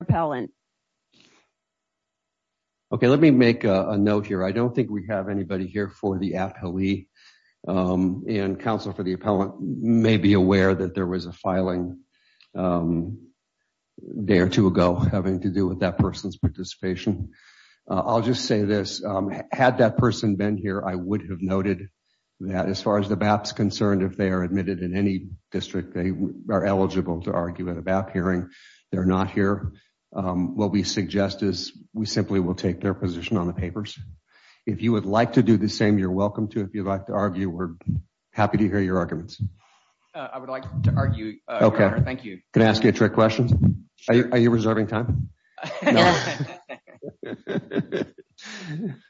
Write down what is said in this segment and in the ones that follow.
repellent? Okay, let me make a note here. I don't think we have anybody here for the app. Haley and counsel for the appellant may be aware that there was a filing a day or two ago having to do with that person's participation. I'll just say this. Had that person been here, I would have noted that as far as the bats concerned, if they are admitted in any district, they are eligible to argue it about hearing. They're not here. Um, what we suggest is we simply will take their position on the papers. If you would like to do the same, you're welcome to. If you'd like to argue, we're happy to hear your arguments. I would like to argue. Okay, thank you. Can I ask you a trick question? Are you reserving time?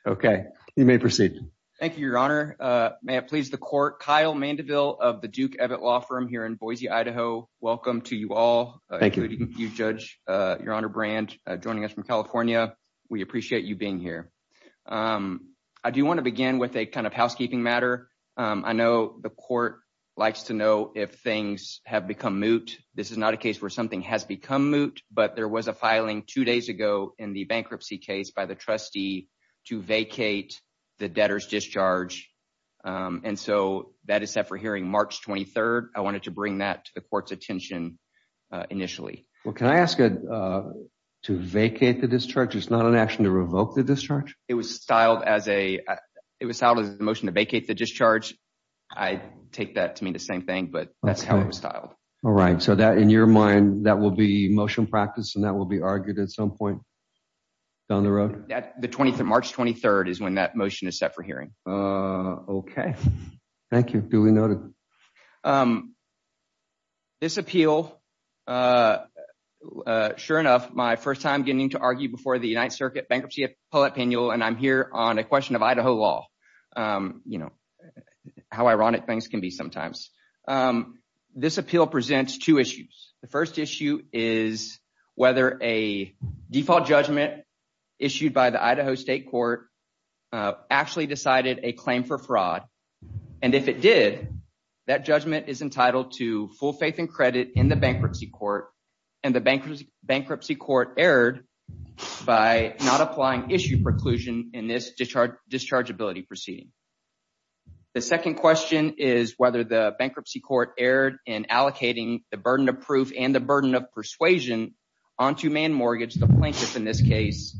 Okay, you may proceed. Thank you, Your Honor. May it please the court. Kyle Mandeville of the Duke Evett law firm here in Boise, Idaho. Welcome to you all. Thank you, Judge. Your Honor Brand joining us from California. We appreciate you being here. Um, I do want to begin with a kind of housekeeping matter. I know the court likes to know if things have become moot. This is not a case where something has become moot, but there was a filing two days ago in the bankruptcy case by the trustee to vacate the debtors discharge. Um, and so that is set for hearing March 23rd. I wanted to bring that to the court's attention initially. Well, can I ask you, uh, to vacate the discharge? It's not an action to revoke the discharge. It was styled as a, it was out of the motion to vacate the discharge. I take that to mean the same thing, but that's how it was styled. All right. So that in your mind, that will be motion practice and that will be argued at some point down the road that the 23rd March 23rd is when that motion is set for hearing. Uh, okay. Thank you. Duly noted. Um, this appeal, uh, uh, sure enough, my first time getting to argue before the United Circuit bankruptcy poll opinion. And I'm here on a question of Idaho law. Um, you know how ironic things can be sometimes. Um, this appeal presents two issues. The first issue is whether a default judgment issued by the Idaho state court, uh, actually decided a claim for fraud. And if it did, that judgment is entitled to full faith and credit in the bankruptcy court and the bankruptcy bankruptcy court erred by not applying issue preclusion in this discharge discharge ability proceeding. The second question is whether the bankruptcy court erred in allocating the burden of proof and the burden of persuasion onto man mortgage. The plaintiff in this case,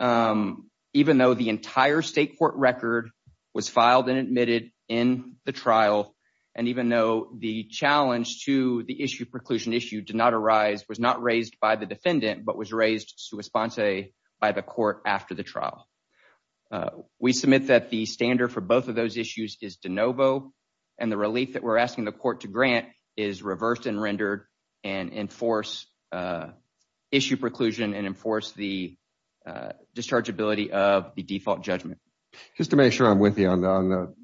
um, even though the entire state court record was filed and admitted in the trial. And even though the challenge to the issue preclusion issue did not arise, was not raised by the defendant, but was raised to a sponsor by the court. After the trial, uh, we submit that the standard for both of those issues is de novo and the relief that we're asking the court to grant is reversed and rendered and enforce, uh, issue preclusion and enforce the, uh, discharge ability of the default judgment. Just to make sure I'm with you on the, on the,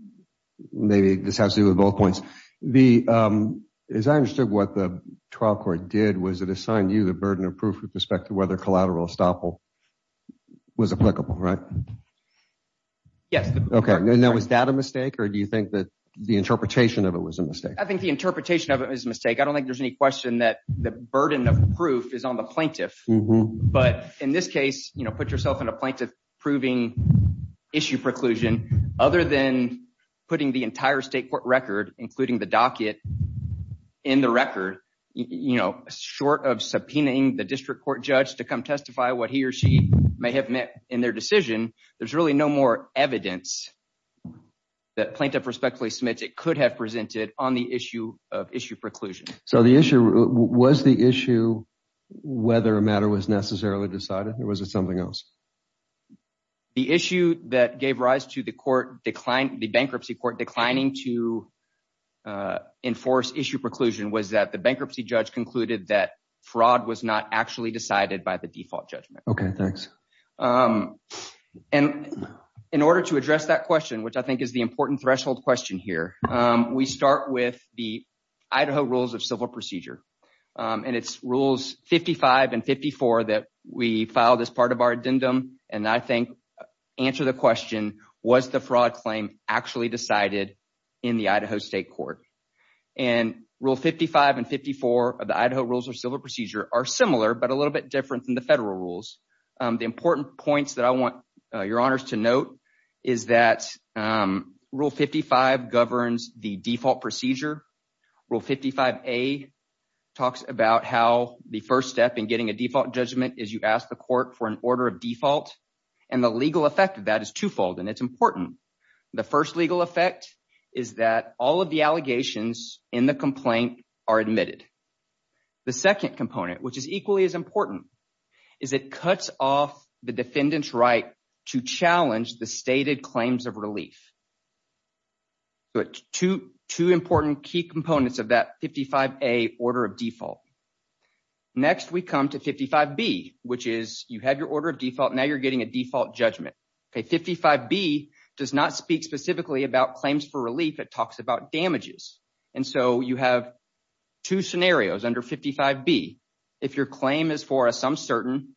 maybe this has to do with both points. The, um, as I understood what the trial court did was it assigned you the burden of proof with respect to whether collateral estoppel was applicable, right? Yes. Okay. Now was that a mistake or do you think that the interpretation of it was a mistake? I think the interpretation of it was a mistake. I don't think there's any question that the burden of proof is on the plaintiff, but in this case, you know, put yourself in a plaintiff proving issue preclusion other than putting the entire state court record, including the docket in the record, you know, short of subpoenaing the district court judge to come testify what he or she may have met in their decision. There's really no more evidence that plaintiff respectfully submits. It could have presented on the issue of issue preclusion. So the issue was the issue, whether a matter was necessarily decided or was it something else? The issue that gave rise to the court declined the bankruptcy court declining to, uh, enforce issue preclusion was that the bankruptcy judge concluded that fraud was not actually decided by the default judgment. Okay. Thanks. Um, and in order to address that question, which I think is the important threshold question here, um, we start with the Idaho rules of civil procedure. Um, and it's rules 55 and 54 that we filed as part of our addendum. And I think answer the question, was the fraud claim actually decided in the Idaho state court and rule 55 and 54 of the Idaho rules of civil procedure are similar, but a little bit different than the federal rules. Um, the important points that I want your honors to note is that, um, rule 55 governs the default procedure. Rule 55 a talks about how the first step in getting a default judgment is you ask the court for an order of default and the legal effect of that is twofold. And it's important. The first legal effect is that all of the allegations in the complaint are admitted. The second component, which is equally as important is it cuts off the defendant's right to challenge the stated claims of relief, but two, two important key components of that 55, a order of default. Next we come to 55 B, which is you had your order of default. Now you're a default judgment. Okay. 55 B does not speak specifically about claims for relief. It talks about damages. And so you have two scenarios under 55 B. If your claim is for a some certain,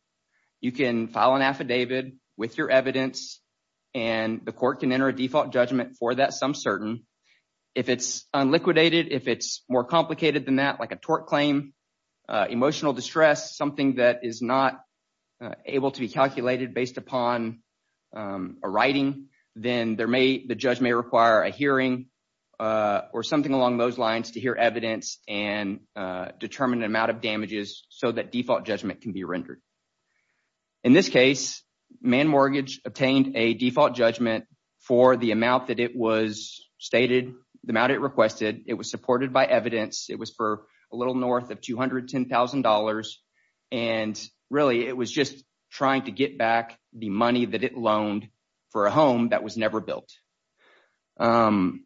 you can file an affidavit with your evidence and the court can enter a default judgment for that. Some certain if it's unliquidated, if it's more complicated than that, like a upon, um, a writing, then there may, the judge may require a hearing, uh, or something along those lines to hear evidence and, uh, determine the amount of damages so that default judgment can be rendered. In this case, man mortgage obtained a default judgment for the amount that it was stated, the amount it requested. It was supported by evidence. It was for a north of $210,000. And really it was just trying to get back the money that it loaned for a home that was never built. Um,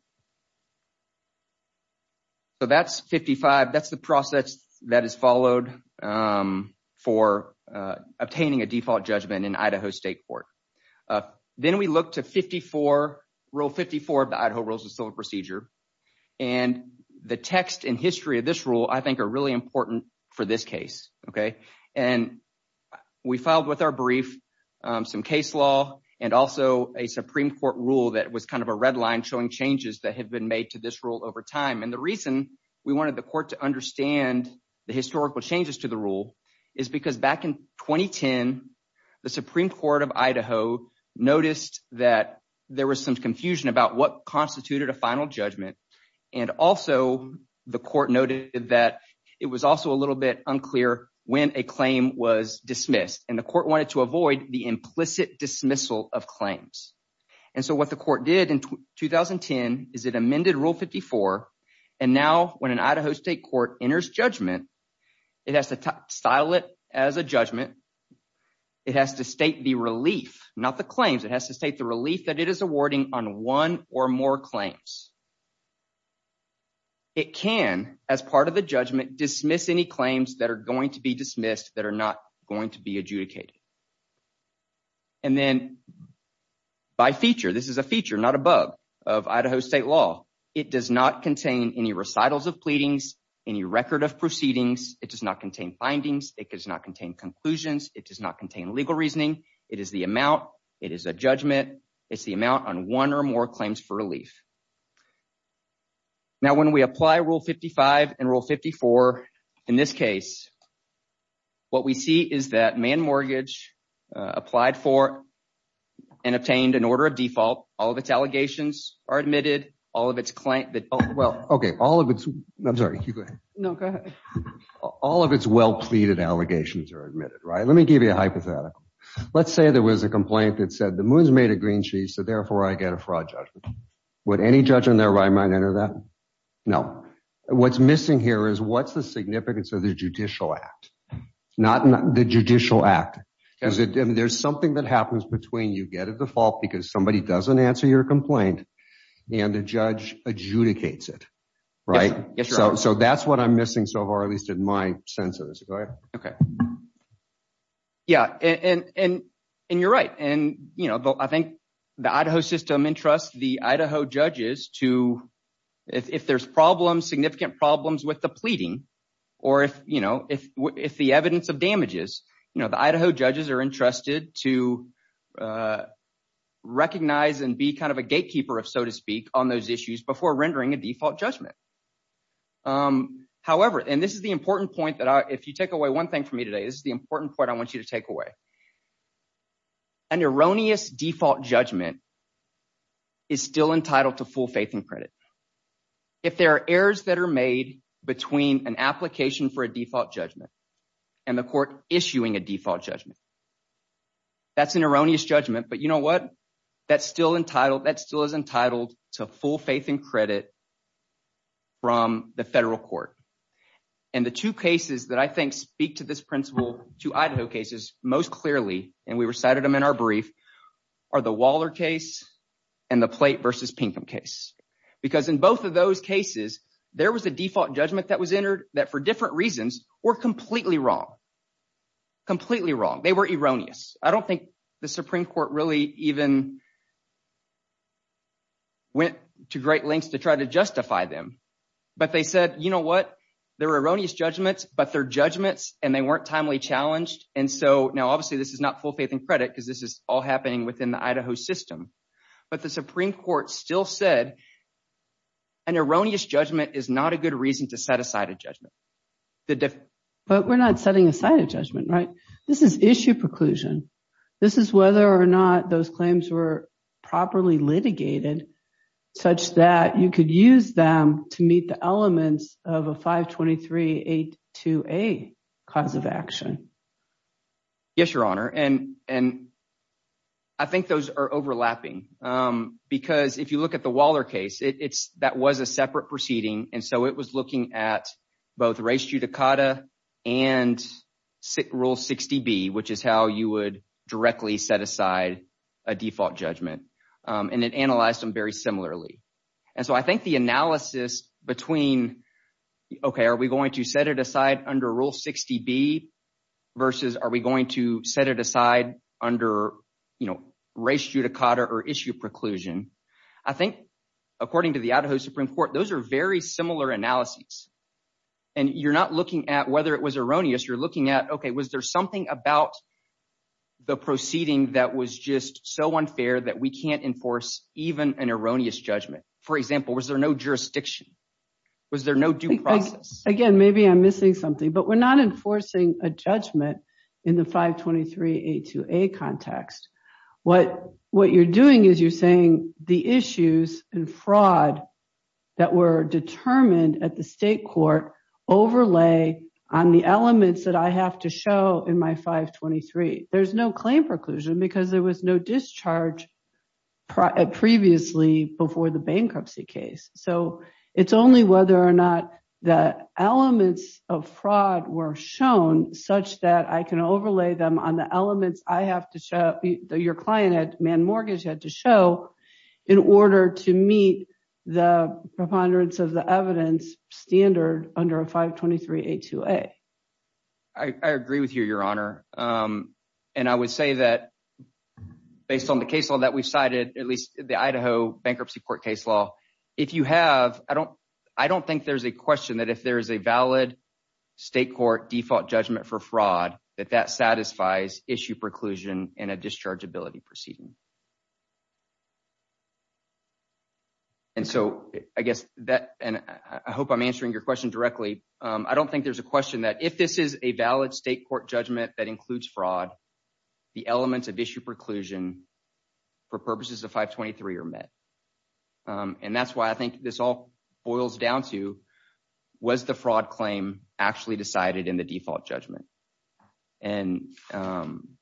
so that's 55. That's the process that is followed, um, for, uh, obtaining a default judgment in Idaho state court. Uh, then we look to 54 rule 54 of the Idaho rules of civil procedure and the text and history of this rule, I think are really important for this case. Okay. And we filed with our brief, um, some case law and also a Supreme court rule that was kind of a red line showing changes that had been made to this rule over time. And the reason we wanted the court to understand the historical changes to the rule is because back in 2010, the Supreme court of Idaho noticed that there was some confusion about what constituted a final judgment. And also the court noted that it was also a little bit unclear when a claim was dismissed and the court wanted to avoid the implicit dismissal of claims. And so what the court did in 2010 is it amended rule 54. And now when an Idaho state court enters judgment, it has to style it as a judgment. It has to state the relief, not the claims. It has to state the relief that it is awarding on one or more claims. It can as part of the judgment, dismiss any claims that are going to be dismissed that are not going to be adjudicated. And then by feature, this is a feature, not a bug of Idaho state law. It does not contain any recitals of pleadings, any record of proceedings. It does not contain findings. It does not contain conclusions. It does not contain legal reasoning. It is the amount. It is a judgment. It's the amount on one or more claims for relief. Now, when we apply rule 55 and rule 54, in this case, what we see is that man mortgage applied for and obtained an order of default. All of its allegations are admitted. All of its client. Well, OK, all of it. I'm sorry. No, go ahead. All of its well pleaded allegations are admitted. Right. Let me give you a hypothetical. Let's say there was a complaint that said the moon's made a green sheet. So therefore, I get a fraud. Would any judge in their right mind enter that? No. What's missing here is what's the significance of the judicial act? Not the judicial act, because there's something that happens between you get a default because somebody doesn't answer your complaint and a judge adjudicates it. Right. So that's what I'm missing so far, at least in my sense of it. OK. Yeah. And you're right. And, you know, I think the Idaho system entrusts the Idaho judges to if there's problems, significant problems with the pleading or if you know, if if the evidence of damages, you know, the Idaho judges are entrusted to recognize and be kind of a gatekeeper, if so to speak, on those issues before rendering a default judgment. However, and this is the important point that if you take away one thing from me today is the important point I want you to take away. An erroneous default judgment. Is still entitled to full faith and credit. If there are errors that are made between an application for a default judgment and the court issuing a default judgment. That's an erroneous judgment, but you know what, that's still entitled, that still is entitled to full faith and credit. From the federal court and the two cases that I think speak to this principle to Idaho cases most clearly, and we recited them in our brief, are the Waller case and the plate versus Pinkham case, because in both of those cases, there was a default judgment that was entered that for different reasons were completely wrong. Completely wrong. They were erroneous. I don't think the Supreme Court really even went to great lengths to try to justify them, but they said, you know what, they're erroneous judgments, but they're judgments and they weren't timely challenged. And so now obviously this is not full faith and credit because this is all happening within the Idaho system, but the Supreme Court still said an erroneous judgment is not a good reason to set aside a judgment. But we're not setting aside a judgment, right? This is issue preclusion. This is whether or not those claims were properly litigated such that you could use them to meet the elements of a 523.82a cause of action. Yes, Your Honor. And I think those are overlapping because if you look at the Waller case, it's that was a separate proceeding, and so it was looking at both race judicata and rule 60B, which is how you would directly set aside a default judgment, and it analyzed them very similarly. And so I think the analysis between, OK, are we going to set it aside under rule 60B versus are we going to set it aside under, you know, race judicata or issue preclusion? I think, according to the Idaho Supreme Court, those are very similar analyses. And you're not looking at whether it was erroneous. You're looking at, OK, was there something about the proceeding that was just so unfair that we can't enforce even an erroneous judgment? For example, was there no jurisdiction? Was there no due process? Again, maybe I'm missing something, but we're not enforcing a judgment in the 523.82a context. What you're doing is you're saying the issues and fraud that were determined at the state court overlay on the elements that I have to show in my 523. There's no claim preclusion because there was no discharge previously before the bankruptcy case. So it's only whether or not the elements of fraud were shown such that I can overlay them on the elements I have to show, your client at Mann Mortgage had to show in order to meet the preponderance of the evidence standard under a 523.82a. I agree with you, Your Honor. And I would say that based on the case law that we've cited, at least the Idaho Bankruptcy Court case law, if you have, I don't think there's a question that if there is a valid state court default judgment for fraud, that that satisfies issue preclusion in a dischargeability proceeding. And so I guess that, and I hope I'm answering your question directly. I don't think there's a question that if this is a valid state court judgment that includes fraud, the elements of issue preclusion for purposes of 523 are met. And that's why I think this all boils down to, was the fraud claim actually decided in the default judgment? And the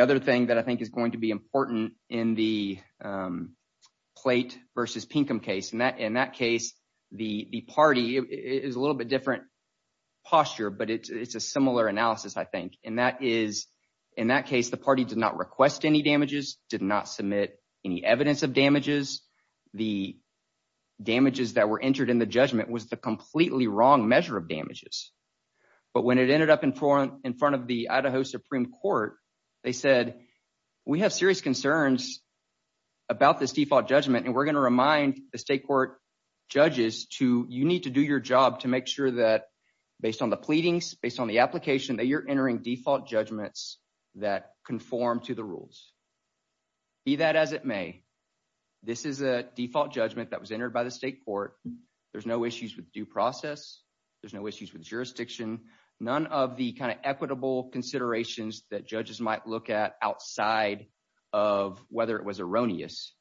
other thing that I think is going to be important in the Plate v. Pinkham case, in that case, the party is a little bit different posture, but it's a similar analysis, I think. And that is, in that case, the party did not request any damages, did not submit any evidence of damages. The damages that were entered in the judgment was the completely wrong measure of damages. But when it ended up in front of the Idaho Supreme Court, they said, we have serious concerns about this default judgment, and we're going to remind the state court judges to, you need to do your job to make sure that based on the pleadings, based on the application, that you're entering default judgments that conform to the rules. Be that as it may, this is a default judgment that was entered by the state court. There's no issues with due process. There's no issues with jurisdiction. None of the kind of equitable considerations that judges might look at outside of whether it was erroneous.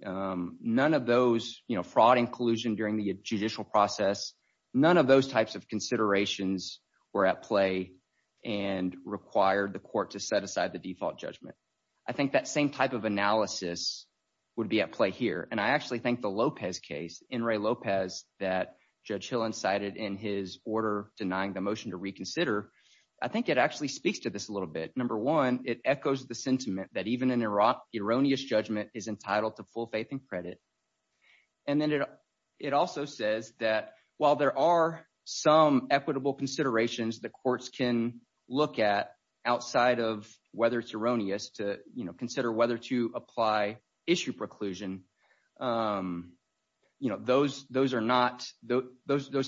None of those, fraud and collusion during the judicial process, none of those types of considerations were at play and required the court to set aside the default judgment. I think that same type of analysis would be at play here. And I actually think the Lopez case, in Ray Lopez, that Judge Hill incited in his order, denying the motion to reconsider, I think it actually speaks to this a little bit. Number one, it echoes the sentiment that even in Iraq, erroneous judgment is entitled to full faith and credit. And then it also says that while there are some equitable considerations, the courts can look at outside of whether it's erroneous to consider whether to apply issue preclusion. Those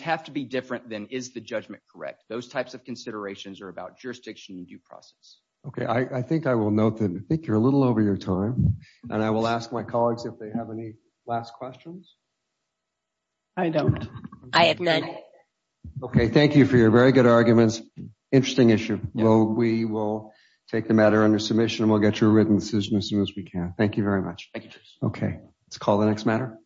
have to be different than is the judgment correct. Those types of considerations are about jurisdiction and due process. Okay. I think I will note that I think you're a little over your time. And I will ask my colleagues if they have any last questions. I don't. Okay. Thank you for your very good arguments. Interesting issue. Well, we will take the matter under submission and we'll get you a written decision as soon as we can. Thank you very much. Okay. Let's call the next matter.